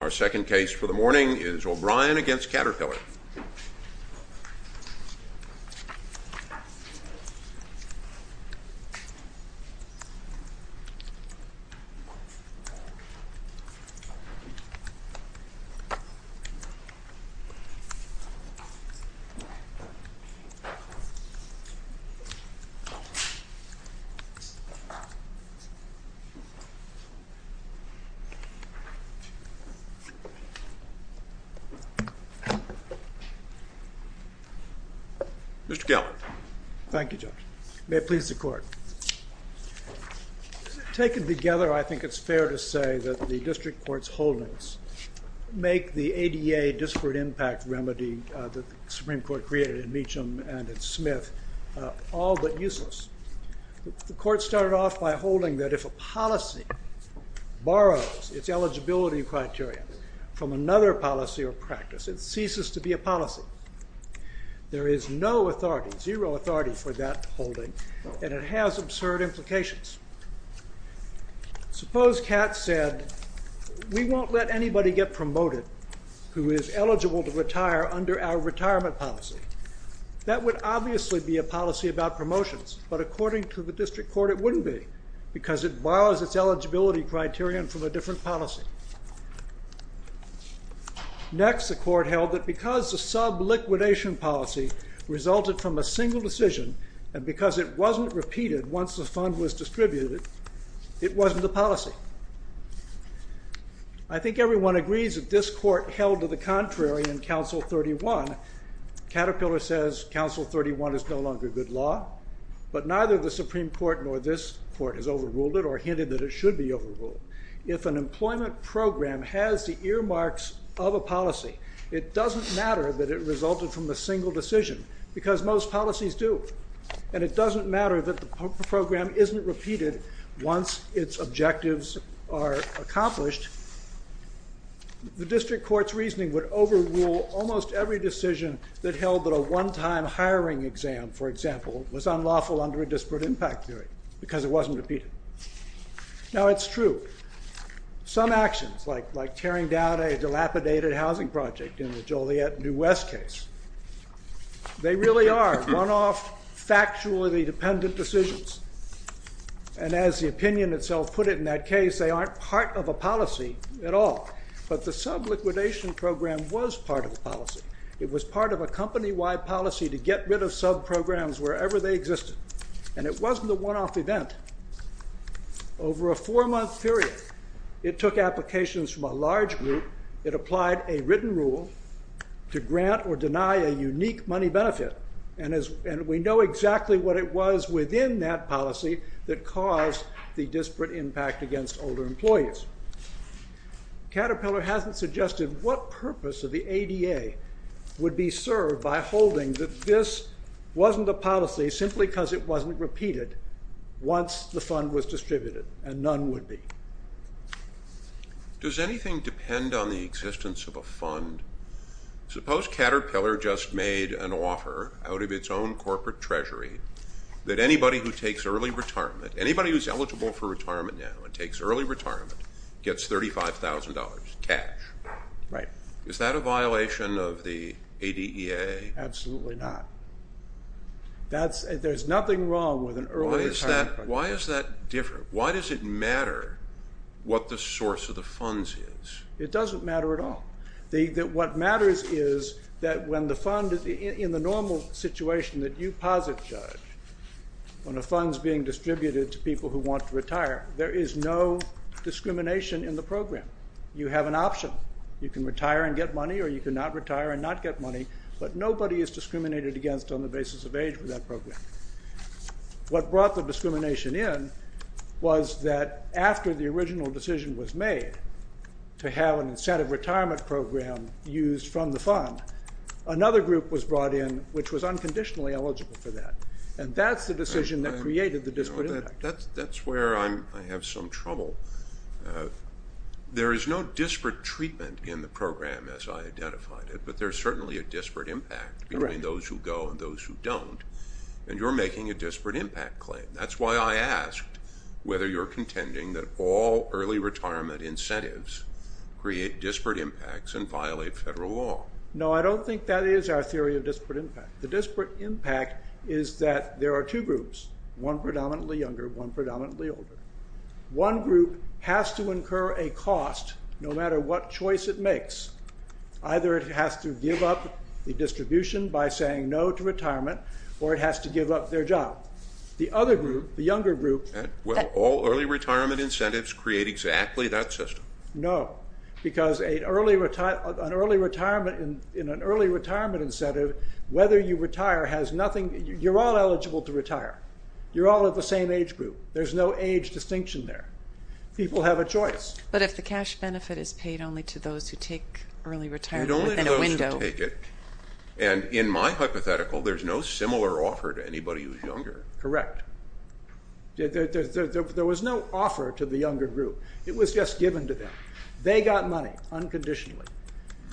Our second case for the morning is O'Brien v. Caterpillar. Mr. Keller. Thank you, Judge. May it please the court. Taken together, I think it's fair to say that the district court's holdings make the ADA disparate impact remedy that the Supreme Court created in Meacham and at Smith all but useless. The court started off by holding that if a policy borrows its eligibility criteria from another policy or practice, it ceases to be a policy. There is no authority, zero authority for that holding, and it has absurd implications. Suppose Katz said, we won't let anybody get promoted who is eligible to retire under our retirement policy. That would obviously be a policy about promotions, but according to the district court, it wouldn't be, because it borrows its eligibility criterion from a different policy. Next, the court held that because the sub-liquidation policy resulted from a single decision, and because it wasn't repeated once the fund was distributed, it wasn't a policy. I think everyone agrees that this court held to the contrary in Council 31. Caterpillar says Council 31 is no longer good law, but neither the Supreme Court nor this court has overruled it or hinted that it should be overruled. If an employment program has the earmarks of a policy, it doesn't matter that it resulted from a single decision, because most policies do, and it doesn't matter that the program isn't repeated once its objectives are accomplished. The district court's reasoning would overrule almost every decision that held that a one-time hiring exam, for example, was unlawful under a disparate impact theory, because it wasn't repeated. Now, it's true. Some actions, like tearing down a dilapidated housing project in the Joliet New West case, they really are one-off, factually dependent decisions, and as the opinion itself put it in that case, they aren't part of a policy at all. But the sub-liquidation program was part of a policy. It was part of a company-wide policy to get rid of sub-programs wherever they existed, and it wasn't a one-off event. Over a four-month period, it took applications from a large group. It applied a written rule to grant or deny a unique money benefit, and we know exactly what it was within that policy that caused the disparate impact against older employees. Caterpillar hasn't suggested what purpose of the ADA would be served by holding that this wasn't a policy simply because it wasn't repeated once the fund was distributed, and none would be. Does anything depend on the existence of a fund? Suppose Caterpillar just made an offer out of its own corporate treasury that anybody who takes early retirement, anybody who's eligible for retirement now and takes early retirement, gets $35,000 cash. Right. Is that a violation of the ADEA? Absolutely not. There's nothing wrong with an early retirement fund. Why is that different? Why does it matter what the source of the funds is? It doesn't matter at all. What matters is that when the fund is in the normal situation that you posit, Judge, when a fund's being distributed to people who want to retire, there is no discrimination in the program. You have an option. You can retire and get money, or you can not retire and not get money, but nobody is discriminated against on the basis of age for that program. What brought the discrimination in was that after the original decision was made to have an incentive retirement program used from the fund, another group was brought in which was unconditionally eligible for that, and that's the decision that created the disparate impact. That's where I have some trouble. There is no disparate treatment in the program as I identified it, but there's certainly a disparate impact between those who go and those who don't, and you're making a disparate impact claim. That's why I asked whether you're contending that all early retirement incentives create disparate impacts and violate federal law. No, I don't think that is our theory of disparate impact. The disparate impact is that there are two groups, one predominantly younger, one predominantly older. One group has to incur a cost no matter what choice it makes. Either it has to give up the distribution by saying no to retirement or it has to give up their job. The other group, the younger group... All early retirement incentives create exactly that system. No, because in an early retirement incentive, whether you retire has nothing... You're all eligible to retire. You're all of the same age group. There's no age distinction there. People have a choice. But if the cash benefit is paid only to those who take early retirement within a window... And in my hypothetical, there's no similar offer to anybody who's younger. Correct. There was no offer to the younger group. It was just given to them. They got money unconditionally.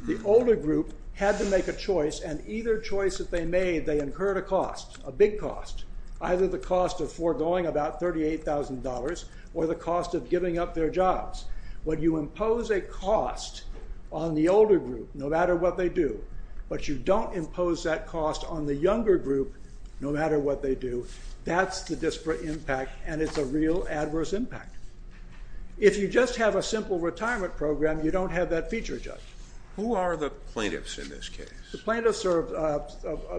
The older group had to make a choice, and either choice that they made, they incurred a cost, a big cost, either the cost of foregoing about $38,000 or the cost of giving up their jobs. When you impose a cost on the older group, no matter what they do, but you don't impose that cost on the younger group, no matter what they do, that's the disparate impact, and it's a real adverse impact. If you just have a simple retirement program, you don't have that feature, Judge. Who are the plaintiffs in this case? The plaintiffs are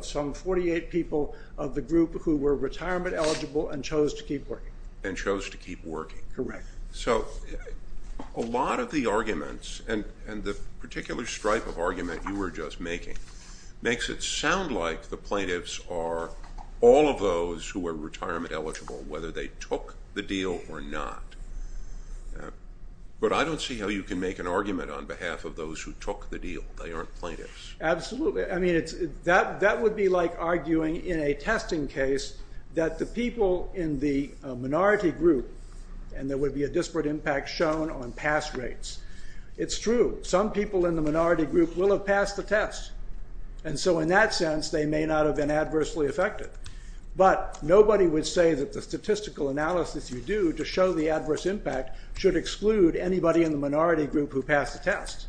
some 48 people of the group who were retirement eligible and chose to keep working. And chose to keep working. Correct. So a lot of the arguments and the particular stripe of argument you were just making makes it sound like the plaintiffs are all of those who are retirement eligible, whether they took the deal or not. But I don't see how you can make an argument on behalf of those who took the deal. They aren't plaintiffs. Absolutely. That would be like arguing in a testing case that the people in the minority group, and there would be a disparate impact shown on pass rates. It's true. Some people in the minority group will have passed the test. And so in that sense, they may not have been adversely affected. But nobody would say that the statistical analysis you do to show the adverse impact should exclude anybody in the minority group who passed the test.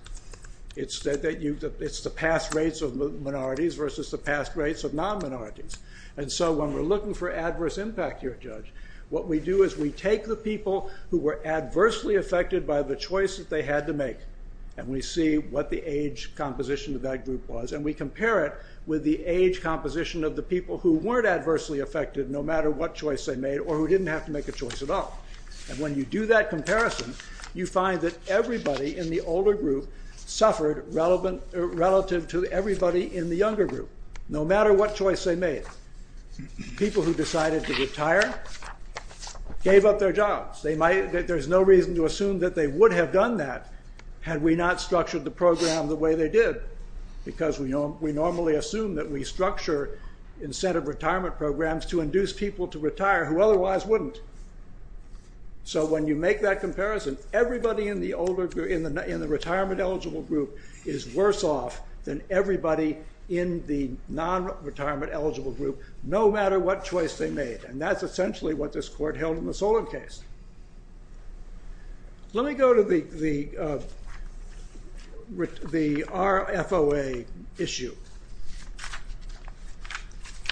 It's the pass rates of minorities versus the pass rates of non-minorities. And so when we're looking for adverse impact here, Judge, what we do is we take the people who were adversely affected by the choice that they had to make, and we see what the age composition of that group was, and we compare it with the age composition of the people who weren't adversely affected no matter what choice they made or who didn't have to make a choice at all. And when you do that comparison, you find that everybody in the older group suffered relative to everybody in the younger group, no matter what choice they made. People who decided to retire gave up their jobs. There's no reason to assume that they would have done that had we not structured the program the way they did because we normally assume that we structure incentive retirement programs to induce people to retire who otherwise wouldn't. So when you make that comparison, everybody in the retirement-eligible group is worse off than everybody in the non-retirement-eligible group, no matter what choice they made. And that's essentially what this court held in the Solon case. Let me go to the RFOA issue.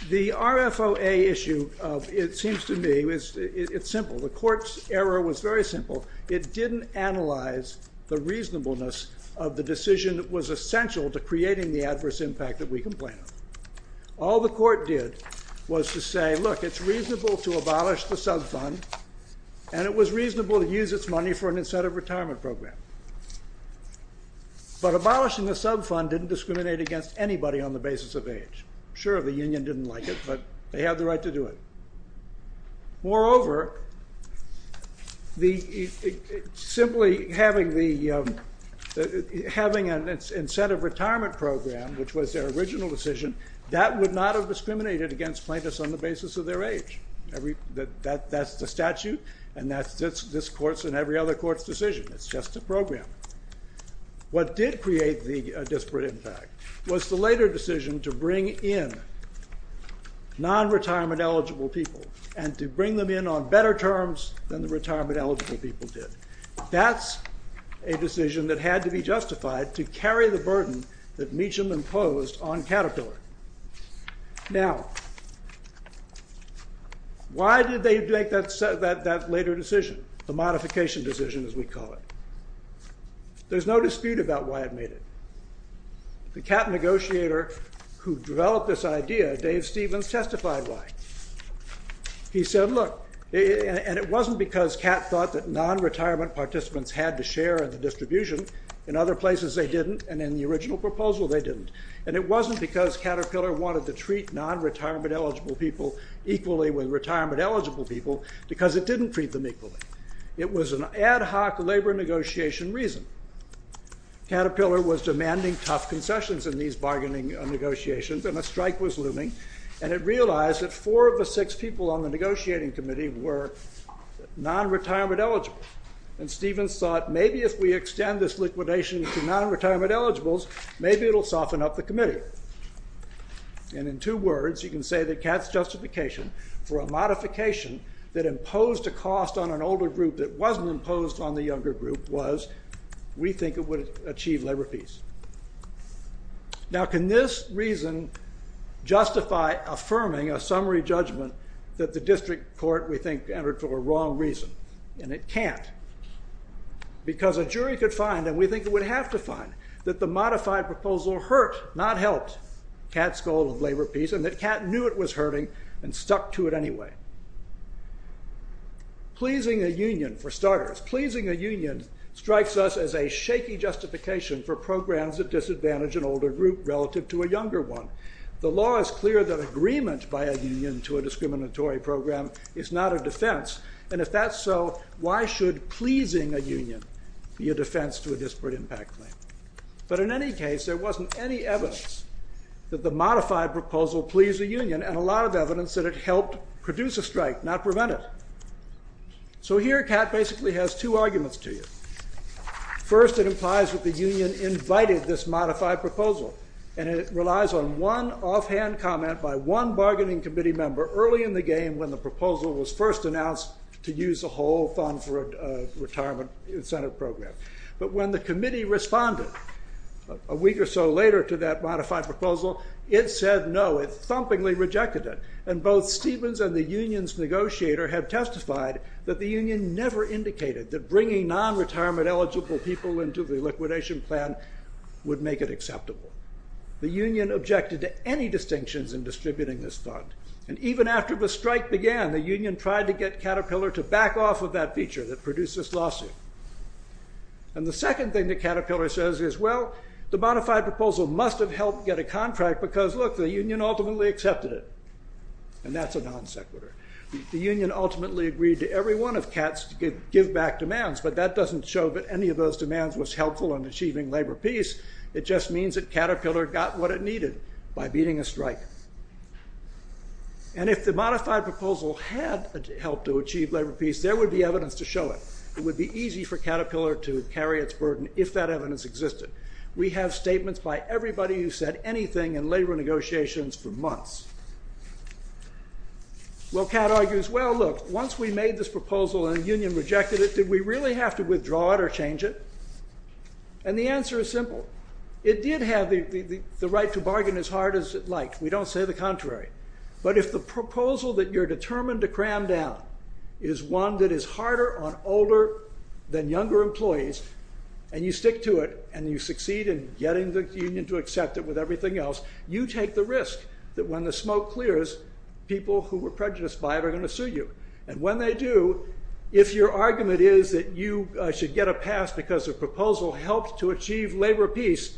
The RFOA issue, it seems to me, it's simple. The court's error was very simple. It didn't analyze the reasonableness of the decision that was essential to creating the adverse impact that we complain of. All the court did was to say, look, it's reasonable to abolish the subfund, and it was reasonable to use its money for an incentive retirement program. But abolishing the subfund didn't discriminate against anybody on the basis of age. Sure, the union didn't like it, but they had the right to do it. Moreover, simply having an incentive retirement program, which was their original decision, that would not have discriminated against plaintiffs on the basis of their age. That's the statute, and that's this court's and every other court's decision. It's just a program. What did create the disparate impact was the later decision to bring in non-retirement eligible people and to bring them in on better terms than the retirement eligible people did. That's a decision that had to be justified to carry the burden that Meacham imposed on Caterpillar. Now, why did they make that later decision? The modification decision, as we call it. There's no dispute about why it made it. The Catt negotiator who developed this idea, Dave Stevens, testified why. He said, look, and it wasn't because Catt thought that non-retirement participants had to share in the distribution. In other places they didn't, and in the original proposal they didn't. And it wasn't because Caterpillar wanted to treat non-retirement eligible people equally with retirement eligible people because it didn't treat them equally. It was an ad hoc labor negotiation reason. Caterpillar was demanding tough concessions in these bargaining negotiations, and a strike was looming. And it realized that four of the six people on the negotiating committee were non-retirement eligible. And Stevens thought, maybe if we extend this liquidation to non-retirement eligibles, maybe it'll soften up the committee. And in two words, you can say that Catt's justification for a modification that imposed a cost on an older group that wasn't imposed on the younger group was, we think it would achieve labor peace. Now, can this reason justify affirming a summary judgment that the district court, we think, entered for a wrong reason? And it can't. Because a jury could find, and we think it would have to find, that the modified proposal hurt, not helped, Catt's goal of labor peace and that Catt knew it was hurting and stuck to it anyway. Pleasing a union, for starters. Pleasing a union strikes us as a shaky justification for programs that disadvantage an older group relative to a younger one. The law is clear that agreement by a union to a discriminatory program is not a defense, and if that's so, why should pleasing a union be a defense to a disparate impact claim? But in any case, there wasn't any evidence that the modified proposal pleased a union and a lot of evidence that it helped produce a strike, not prevent it. So here, Catt basically has two arguments to you. First, it implies that the union invited this modified proposal, and it relies on one offhand comment by one bargaining committee member early in the game when the proposal was first announced to use the whole fund for a retirement incentive program. But when the committee responded a week or so later to that modified proposal, it said no, it thumpingly rejected it, and both Stevens and the union's negotiator have testified that the union never indicated that bringing non-retirement eligible people into the liquidation plan would make it acceptable. The union objected to any distinctions in distributing this fund, and even after the strike began, the union tried to get Caterpillar to back off of that feature that produced this lawsuit. And the second thing that Caterpillar says is, well, the modified proposal must have helped get a contract because, look, the union ultimately accepted it. And that's a non-sequitur. The union ultimately agreed to every one of Catt's give-back demands, but that doesn't show that any of those demands was helpful in achieving labor peace. It just means that Caterpillar got what it needed by beating a strike. And if the modified proposal had helped to achieve labor peace, there would be evidence to show it. It would be easy for Caterpillar to carry its burden, if that evidence existed. We have statements by everybody who said anything in labor negotiations for months. Well, Catt argues, well, look, once we made this proposal and the union rejected it, did we really have to withdraw it or change it? And the answer is simple. It did have the right to bargain as hard as it liked. We don't say the contrary. But if the proposal that you're determined to cram down is one that is harder on older than younger employees, and you stick to it, and you succeed in getting the union to accept it with everything else, you take the risk that when the smoke clears, people who were prejudiced by it are going to sue you. And when they do, if your argument is that you should get a pass because the proposal helped to achieve labor peace,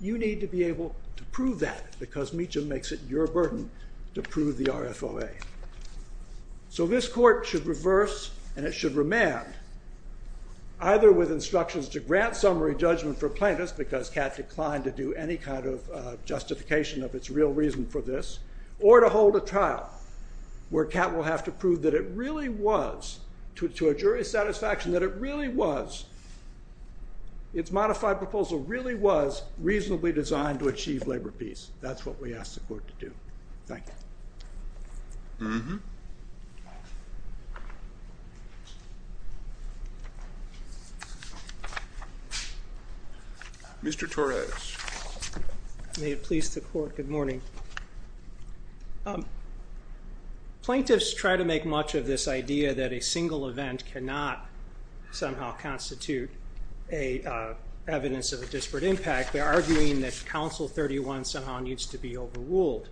you need to be able to prove that, because Meacham makes it your burden to prove the RFOA. So this court should reverse, and it should remand, either with instructions to grant summary judgment for plaintiffs, because Catt declined to do any kind of justification of its real reason for this, or to hold a trial where Catt will have to prove that it really was, to a jury's satisfaction, that it really was, its modified proposal really was reasonably designed to achieve labor peace. That's what we ask the court to do. Thank you. Mm-hmm. Mr. Torres. May it please the court, good morning. Plaintiffs try to make much of this idea that a single event cannot somehow constitute evidence of a disparate impact. They're arguing that Council 31 somehow needs to be overruled.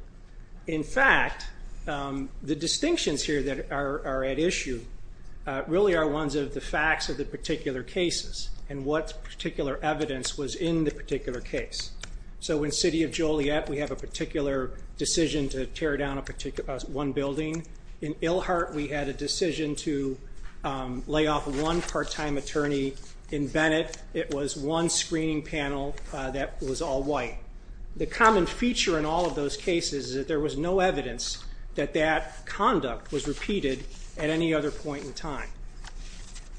In fact, the distinctions here that are at issue really are ones of the facts of the particular cases and what particular evidence was in the particular case. So in City of Joliet, we have a particular decision to tear down one building. In Ilhart, we had a decision to lay off one part-time attorney. In Bennett, it was one screening panel that was all white. The common feature in all of those cases is that there was no evidence that that conduct was repeated at any other point in time.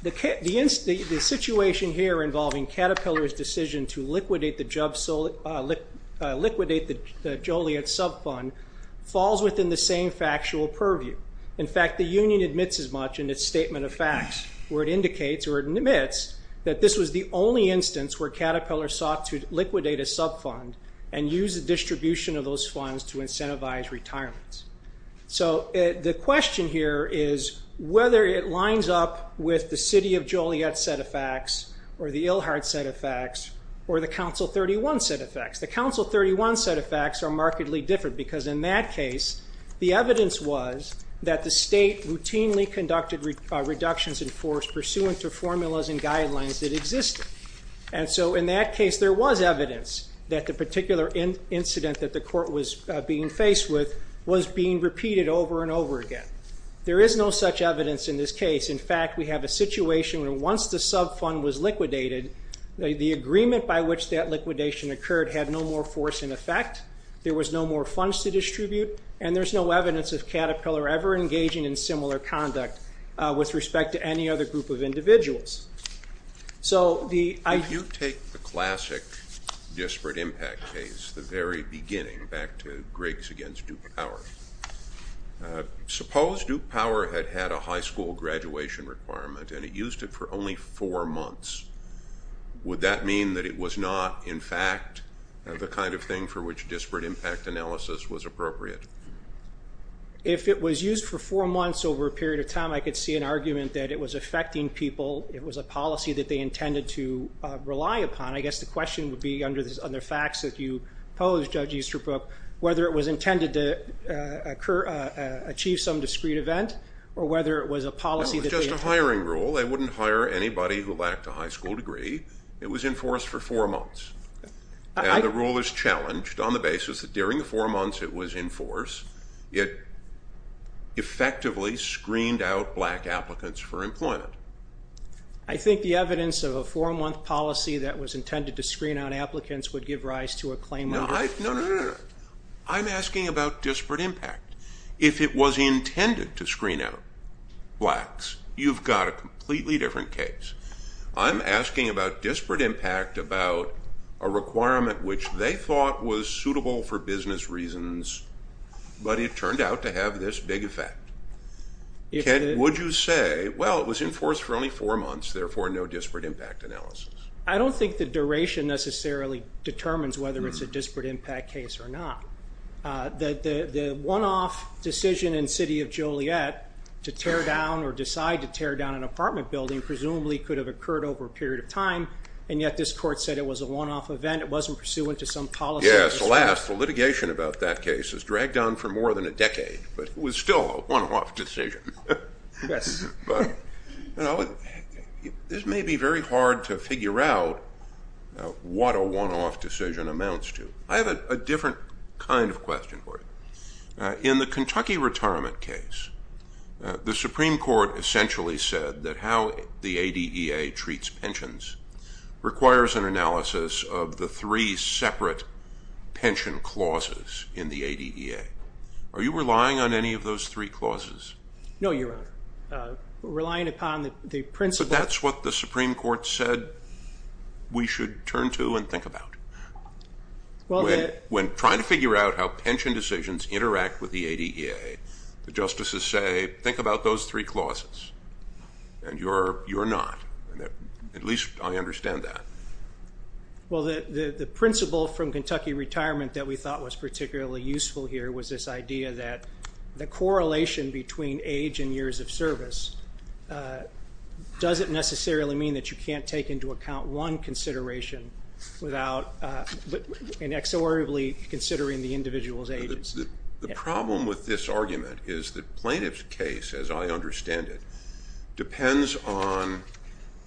The situation here involving Caterpillar's decision to liquidate the Joliet subfund falls within the same factual purview. In fact, the union admits as much in its statement of facts where it indicates, or it admits, that this was the only instance where Caterpillar sought to liquidate a subfund and use the distribution of those funds to incentivize retirement. So the question here is whether it lines up with the City of Joliet set of facts or the Ilhart set of facts or the Council 31 set of facts. The Council 31 set of facts are markedly different because in that case, the evidence was that the state routinely conducted reductions in force pursuant to formulas and guidelines that existed. And so in that case, there was evidence that the particular incident that the court was being faced with was being repeated over and over again. There is no such evidence in this case. In fact, we have a situation where once the subfund was liquidated, the agreement by which that liquidation occurred had no more force in effect, there was no more funds to distribute, and there's no evidence of Caterpillar ever engaging in similar conduct with respect to any other group of individuals. So the... If you take the classic disparate impact case, the very beginning, back to Griggs against Duke Power, suppose Duke Power had had a high school graduation requirement and it used it for only four months. Would that mean that it was not, in fact, the kind of thing for which disparate impact analysis was appropriate? If it was used for four months over a period of time, I could see an argument that it was affecting people, it was a policy that they intended to rely upon. I guess the question would be, under the facts that you pose, Judge Easterbrook, whether it was intended to achieve some discrete event or whether it was a policy... That was just a hiring rule. They wouldn't hire anybody who lacked a high school degree. It was in force for four months. And the rule is challenged on the basis it effectively screened out black applicants for employment. I think the evidence of a four-month policy that was intended to screen out applicants would give rise to a claim under... No, no, no, no, no. I'm asking about disparate impact. If it was intended to screen out blacks, you've got a completely different case. I'm asking about disparate impact, about a requirement which they thought was suitable for business reasons, but it turned out to have this big effect. Would you say, well, it was in force for only four months, therefore no disparate impact analysis? I don't think the duration necessarily determines whether it's a disparate impact case or not. The one-off decision in City of Joliet to tear down or decide to tear down an apartment building presumably could have occurred over a period of time, and yet this court said it was a one-off event, it wasn't pursuant to some policy... Yes, alas, the litigation about that case has dragged on for more than a decade, but it was still a one-off decision. Yes. But, you know, this may be very hard to figure out what a one-off decision amounts to. I have a different kind of question for you. In the Kentucky retirement case, the Supreme Court essentially said that how the ADEA treats pensions requires an analysis of the three separate pension clauses in the ADEA. Are you relying on any of those three clauses? No, Your Honor. Relying upon the principle... But that's what the Supreme Court said we should turn to and think about. When trying to figure out how pension decisions interact with the ADEA, the justices say, think about those three clauses, and you're not. At least I understand that. Well, the principle from Kentucky retirement that we thought was particularly useful here was this idea that the correlation between age and years of service doesn't necessarily mean that you can't take into account one consideration without inexorably considering the individual's age. The problem with this argument is that plaintiff's case, as I understand it, depends on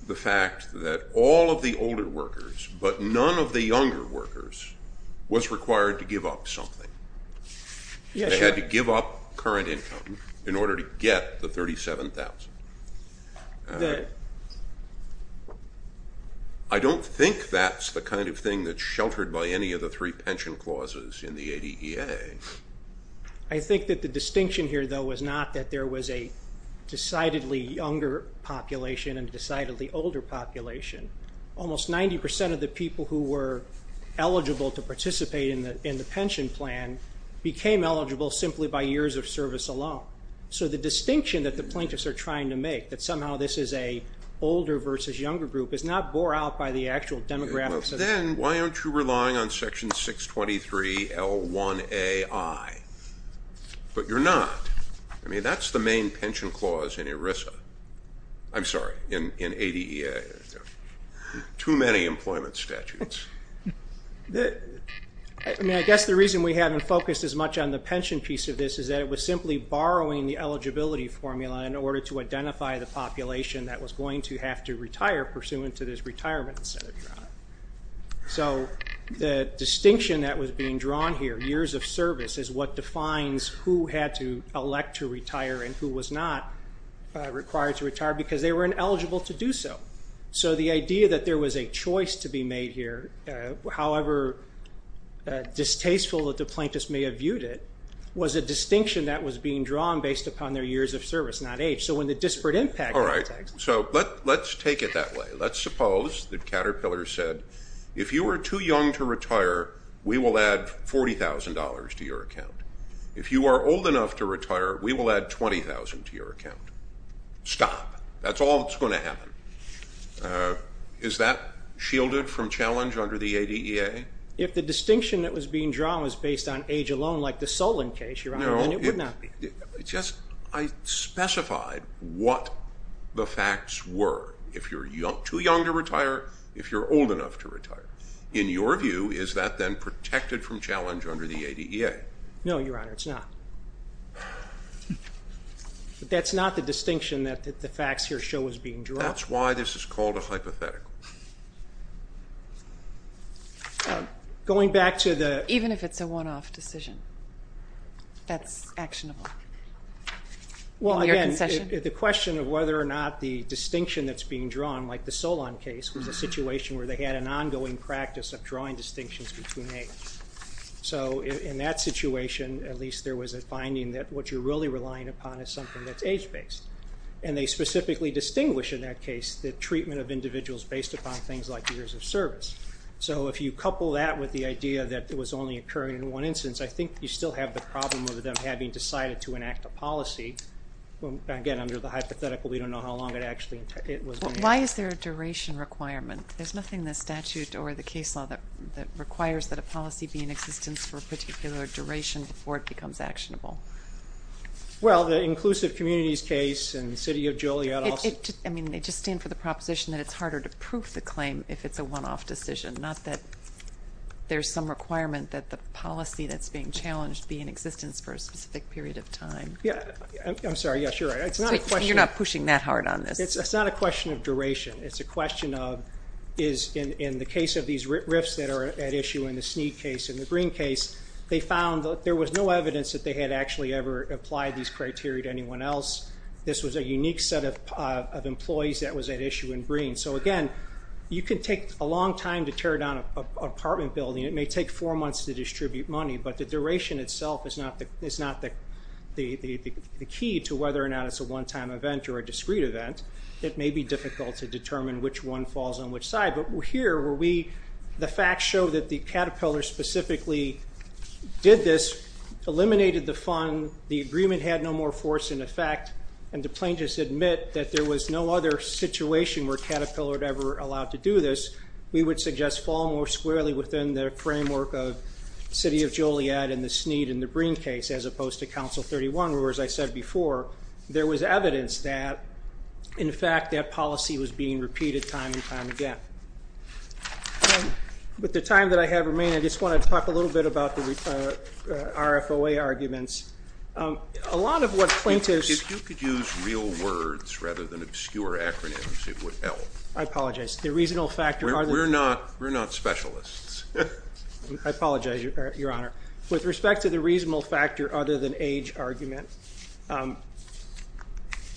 the fact that all of the older workers, but none of the younger workers, was required to give up something. They had to give up current income in order to get the $37,000. I don't think that's the kind of thing that's sheltered by any of the three pension clauses in the ADEA. I think that the distinction here, though, was not that there was a decidedly younger population and a decidedly older population. Almost 90% of the people who were eligible to participate in the pension plan became eligible simply by years of service alone. So the distinction that the plaintiffs are trying to make, that somehow this is an older versus younger group, is not bore out by the actual demographics of the group. Then why aren't you relying on section 623L1AI? But you're not. I mean, that's the main pension clause in ERISA. I'm sorry, in ADEA. Too many employment statutes. I guess the reason we haven't focused as much on the pension piece of this is that it was simply borrowing the eligibility formula in order to identify the population that was going to have to retire pursuant to this retirement incentive. So the distinction that was being drawn here, years of service, is what defines who had to elect to retire and who was not required to retire, because they were ineligible to do so. So the idea that there was a choice to be made here, however distasteful that the plaintiffs may have viewed it, was a distinction that was being drawn based upon their years of service, not age. So when the disparate impact... All right, so let's take it that way. Let's suppose that Caterpillar said, if you are too young to retire, we will add $40,000 to your account. If you are old enough to retire, we will add $20,000 to your account. Stop. That's all that's going to happen. Is that shielded from challenge under the ADEA? If the distinction that was being drawn was based on age alone, like the Solon case, Your Honor, then it would not. I specified what the facts were. If you're too young to retire, if you're old enough to retire. In your view, is that then protected from challenge under the ADEA? No, Your Honor, it's not. But that's not the distinction that the facts here show is being drawn. That's why this is called a hypothetical. Going back to the... Even if it's a one-off decision, that's actionable. Well, again, the question of whether or not the distinction that's being drawn, like the Solon case, was a situation where they had an ongoing practice of drawing distinctions between age. So in that situation, at least there was a finding that what you're really relying upon is something that's age-based. And they specifically distinguish in that case the treatment of individuals based upon things like years of service. So if you couple that with the idea that it was only occurring in one instance, I think you still have the problem of them having decided to enact a policy. Again, under the hypothetical, we don't know how long it was going to... There's nothing in the statute or the case law that requires that a policy be in existence for a particular duration before it becomes actionable. Well, the Inclusive Communities case and the City of Joliet also... I mean, they just stand for the proposition that it's harder to prove the claim if it's a one-off decision, not that there's some requirement that the policy that's being challenged be in existence for a specific period of time. I'm sorry, yes, you're right. You're not pushing that hard on this. It's not a question of duration. It's a question of, in the case of these RIFs that are at issue in the Snead case and the Green case, they found that there was no evidence that they had actually ever applied these criteria to anyone else. This was a unique set of employees that was at issue in Green. So again, you can take a long time to tear down an apartment building. It may take four months to distribute money, but the duration itself is not the key to whether or not it's a one-time event or a discrete event. It may be difficult to determine which one falls on which side. But here, the facts show that the Caterpillar specifically did this, eliminated the fund, the agreement had no more force in effect, and the plaintiffs admit that there was no other situation where Caterpillar had ever allowed to do this, we would suggest fall more squarely within the framework of City of Joliet and the Snead and the Green case, as opposed to Council 31, where, as I said before, there was evidence that, in fact, that policy was being repeated time and time again. With the time that I have remaining, I just wanted to talk a little bit about the RFOA arguments. A lot of what plaintiffs... If you could use real words rather than obscure acronyms, it would help. I apologize. The reasonable factor... We're not specialists. I apologize, Your Honor. With respect to the reasonable factor other than age argument,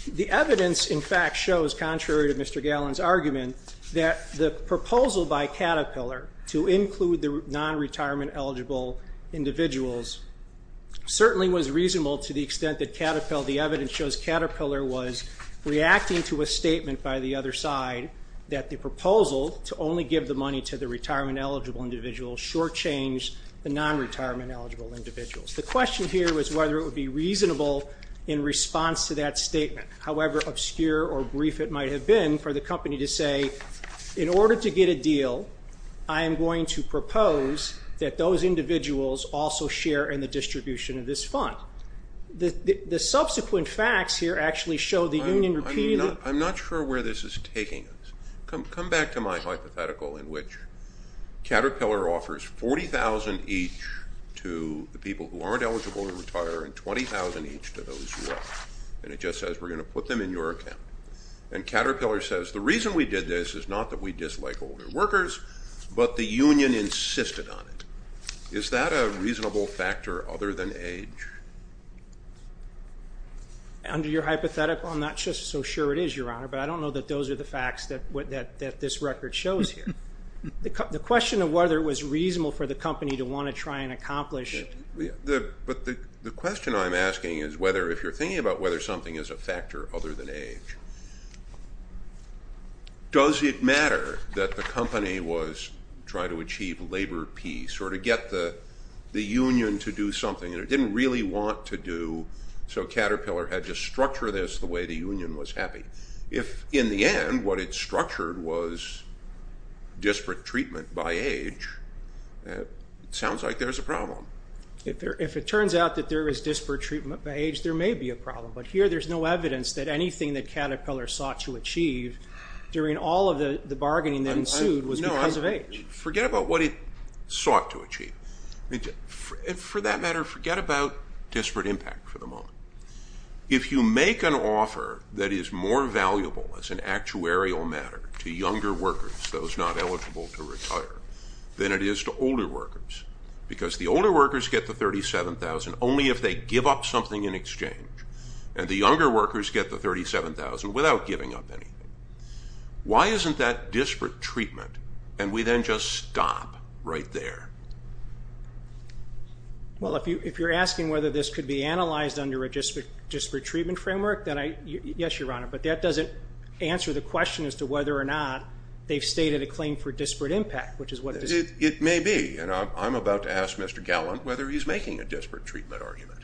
the evidence, in fact, shows, contrary to Mr. Gallen's argument, that the proposal by Caterpillar to include the nonretirement-eligible individuals certainly was reasonable to the extent that Caterpillar... The evidence shows Caterpillar was reacting to a statement by the other side that the proposal to only give the money to the retirement-eligible individuals shortchanged the nonretirement-eligible individuals. The question here was whether it would be reasonable in response to that statement, however obscure or brief it might have been for the company to say, in order to get a deal, I am going to propose that those individuals also share in the distribution of this fund. The subsequent facts here actually show the union repeatedly... I'm not sure where this is taking us. Come back to my hypothetical in which Caterpillar offers $40,000 each to the people who aren't eligible to retire and $20,000 each to those who are. And it just says, we're going to put them in your account. And Caterpillar says, the reason we did this is not that we dislike older workers, but the union insisted on it. Is that a reasonable factor other than age? Under your hypothetical, I'm not just so sure it is, Your Honor, but I don't know that those are the facts that this record shows here. The question of whether it was reasonable for the company to want to try and accomplish... But the question I'm asking is whether if you're thinking about whether something is a factor other than age. Does it matter that the company was trying to achieve labor peace or to get the union to do something that it didn't really want to do so Caterpillar had to structure this the way the union was happy? If in the end what it structured was disparate treatment by age, it sounds like there's a problem. If it turns out that there is disparate treatment by age, there may be a problem. But here there's no evidence that anything that Caterpillar sought to achieve during all of the bargaining that ensued was because of age. Forget about what it sought to achieve. For that matter, forget about disparate impact for the moment. If you make an offer that is more valuable as an actuarial matter to younger workers, those not eligible to retire, than it is to older workers, because the older workers get the $37,000 only if they give up something in exchange. And the younger workers get the $37,000 without giving up anything. Why isn't that disparate treatment and we then just stop right there? Well, if you're asking whether this could be analyzed under a disparate treatment framework, yes, Your Honor, but that doesn't answer the question as to whether or not they've stated a claim for disparate impact. It may be, and I'm about to ask Mr. Gallant whether he's making a disparate treatment argument.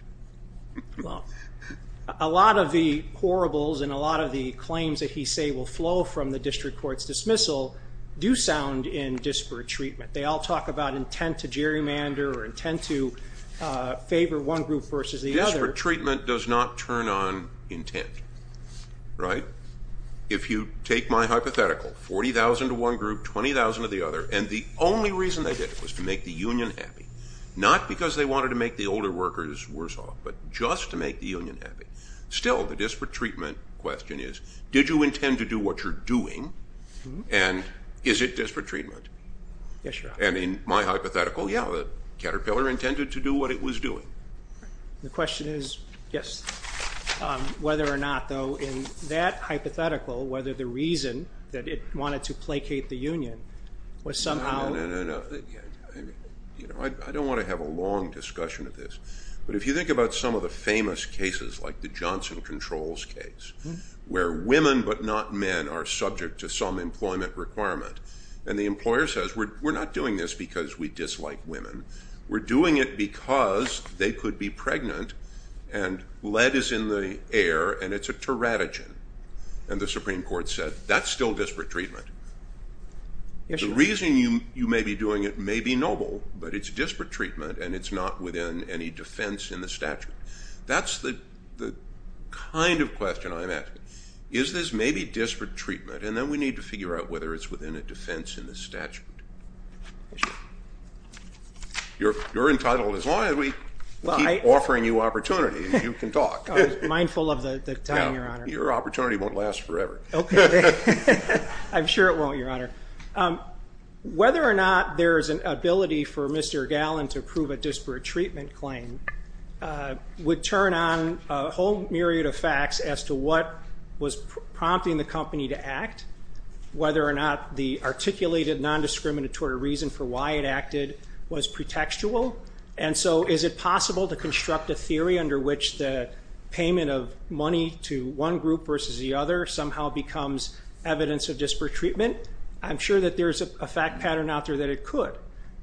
Well, a lot of the horribles and a lot of the claims that he say will flow from the district court's dismissal do sound in disparate treatment. They all talk about intent to gerrymander or intent to favor one group versus the other. Disparate treatment does not turn on intent. Right? If you take my hypothetical, $40,000 to one group, $20,000 to the other, and the only reason they did it was to make the union happy, not because they wanted to make the older workers worse off, but just to make the union happy. Still, the disparate treatment question is, did you intend to do what you're doing? And is it disparate treatment? Yes, Your Honor. And in my hypothetical, yeah, the Caterpillar intended to do what it was doing. The question is, yes, whether or not, though, in that hypothetical, whether the reason that it wanted to placate the union was somehow... No, no, no, no. I don't want to have a long discussion of this, but if you think about some of the famous cases like the Johnson Controls case, where women but not men are subject to some employment requirement, and the employer says, we're not doing this because we dislike women. We're doing it because they could be pregnant and lead is in the air and it's a teratogen. And the Supreme Court said, that's still disparate treatment. The reason you may be doing it may be noble, but it's disparate treatment and it's not within any defense in the statute. That's the kind of question I'm asking. Is this maybe disparate treatment? And then we need to figure out whether it's within a defense in the statute. You're entitled, as long as we keep offering you opportunities, you can talk. I was mindful of the time, Your Honor. Your opportunity won't last forever. I'm sure it won't, Your Honor. Whether or not there is an ability for Mr. Gallen to prove a disparate treatment claim would turn on a whole myriad of facts as to what was prompting the company to act, whether or not the articulated nondiscriminatory reason for why it acted was pretextual. And so is it possible to construct a theory under which the payment of money to one group versus the other somehow becomes evidence of disparate treatment? I'm sure that there's a fact pattern out there that it could,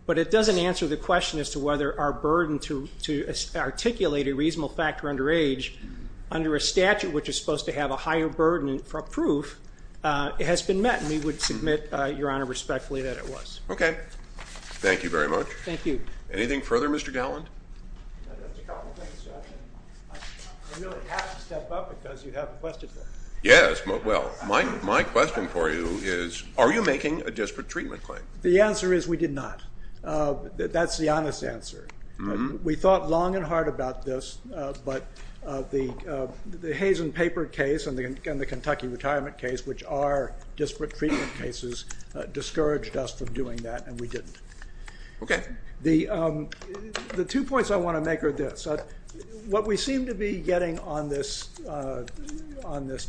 but it doesn't answer the question as to whether our burden to articulate a reasonable factor under age under a statute which is supposed to have a higher burden for proof has been met. And we would submit, Your Honor, respectfully that it was. Okay. Thank you very much. Thank you. Anything further, Mr. Gallen? Just a couple of things. I really have to step up because you have a question. Yes. Well, my question for you is, are you making a disparate treatment claim? The answer is we did not. That's the honest answer. We thought long and hard about this, but the Hayes and Paper case and the Kentucky retirement case, which are disparate treatment cases, discouraged us from doing that, and we didn't. Okay. The two points I want to make are this. What we seem to be getting on this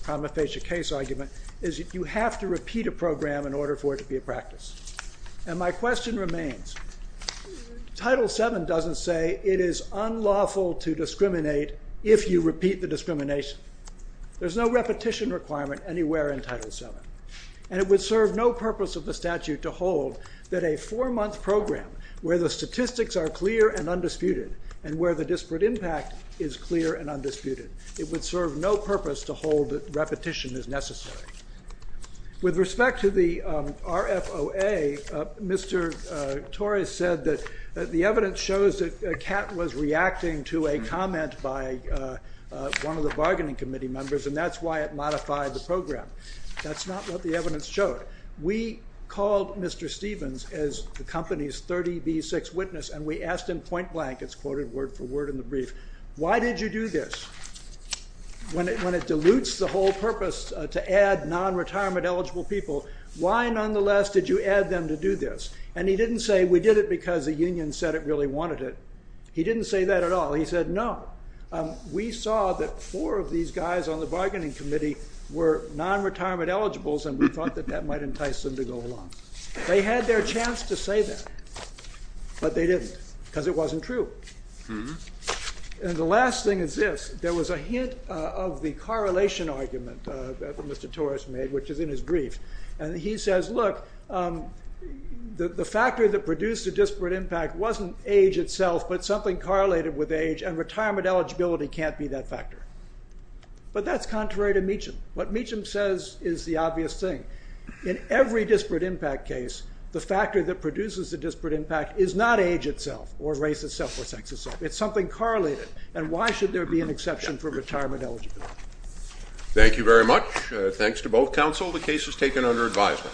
prima facie case argument is you have to repeat a program in order for it to be a practice. And my question remains, Title VII doesn't say it is unlawful to discriminate if you repeat the discrimination. There's no repetition requirement anywhere in Title VII, and it would serve no purpose of the statute to hold that a four-month program where the statistics are clear and undisputed and where the disparate impact is clear and undisputed. It would serve no purpose to hold that repetition is necessary. With respect to the RFOA, Mr. Torres said that the evidence shows that Catt was reacting to a comment by one of the bargaining committee members, and that's why it modified the program. That's not what the evidence showed. We called Mr. Stevens as the company's 30B6 witness, and we asked him point-blank, it's quoted word for word in the brief, why did you do this? When it dilutes the whole purpose to add non-retirement-eligible people, why, nonetheless, did you add them to do this? And he didn't say, we did it because the union said it really wanted it. He didn't say that at all. He said, no, we saw that four of these guys on the bargaining committee were non-retirement-eligible, and we thought that that might entice them to go along. They had their chance to say that, but they didn't, because it wasn't true. And the last thing is this. There was a hint of the correlation argument that Mr. Torres made, which is in his brief, and he says, look, the factor that produced the disparate impact wasn't age itself, but something correlated with age, and retirement eligibility can't be that factor. But that's contrary to Meacham. What Meacham says is the obvious thing. In every disparate impact case, the factor that produces the disparate impact is not age itself or race itself or sex itself. It's something correlated, and why should there be an exception for retirement eligibility? Thank you very much. Thanks to both counsel. The case is taken under advisement.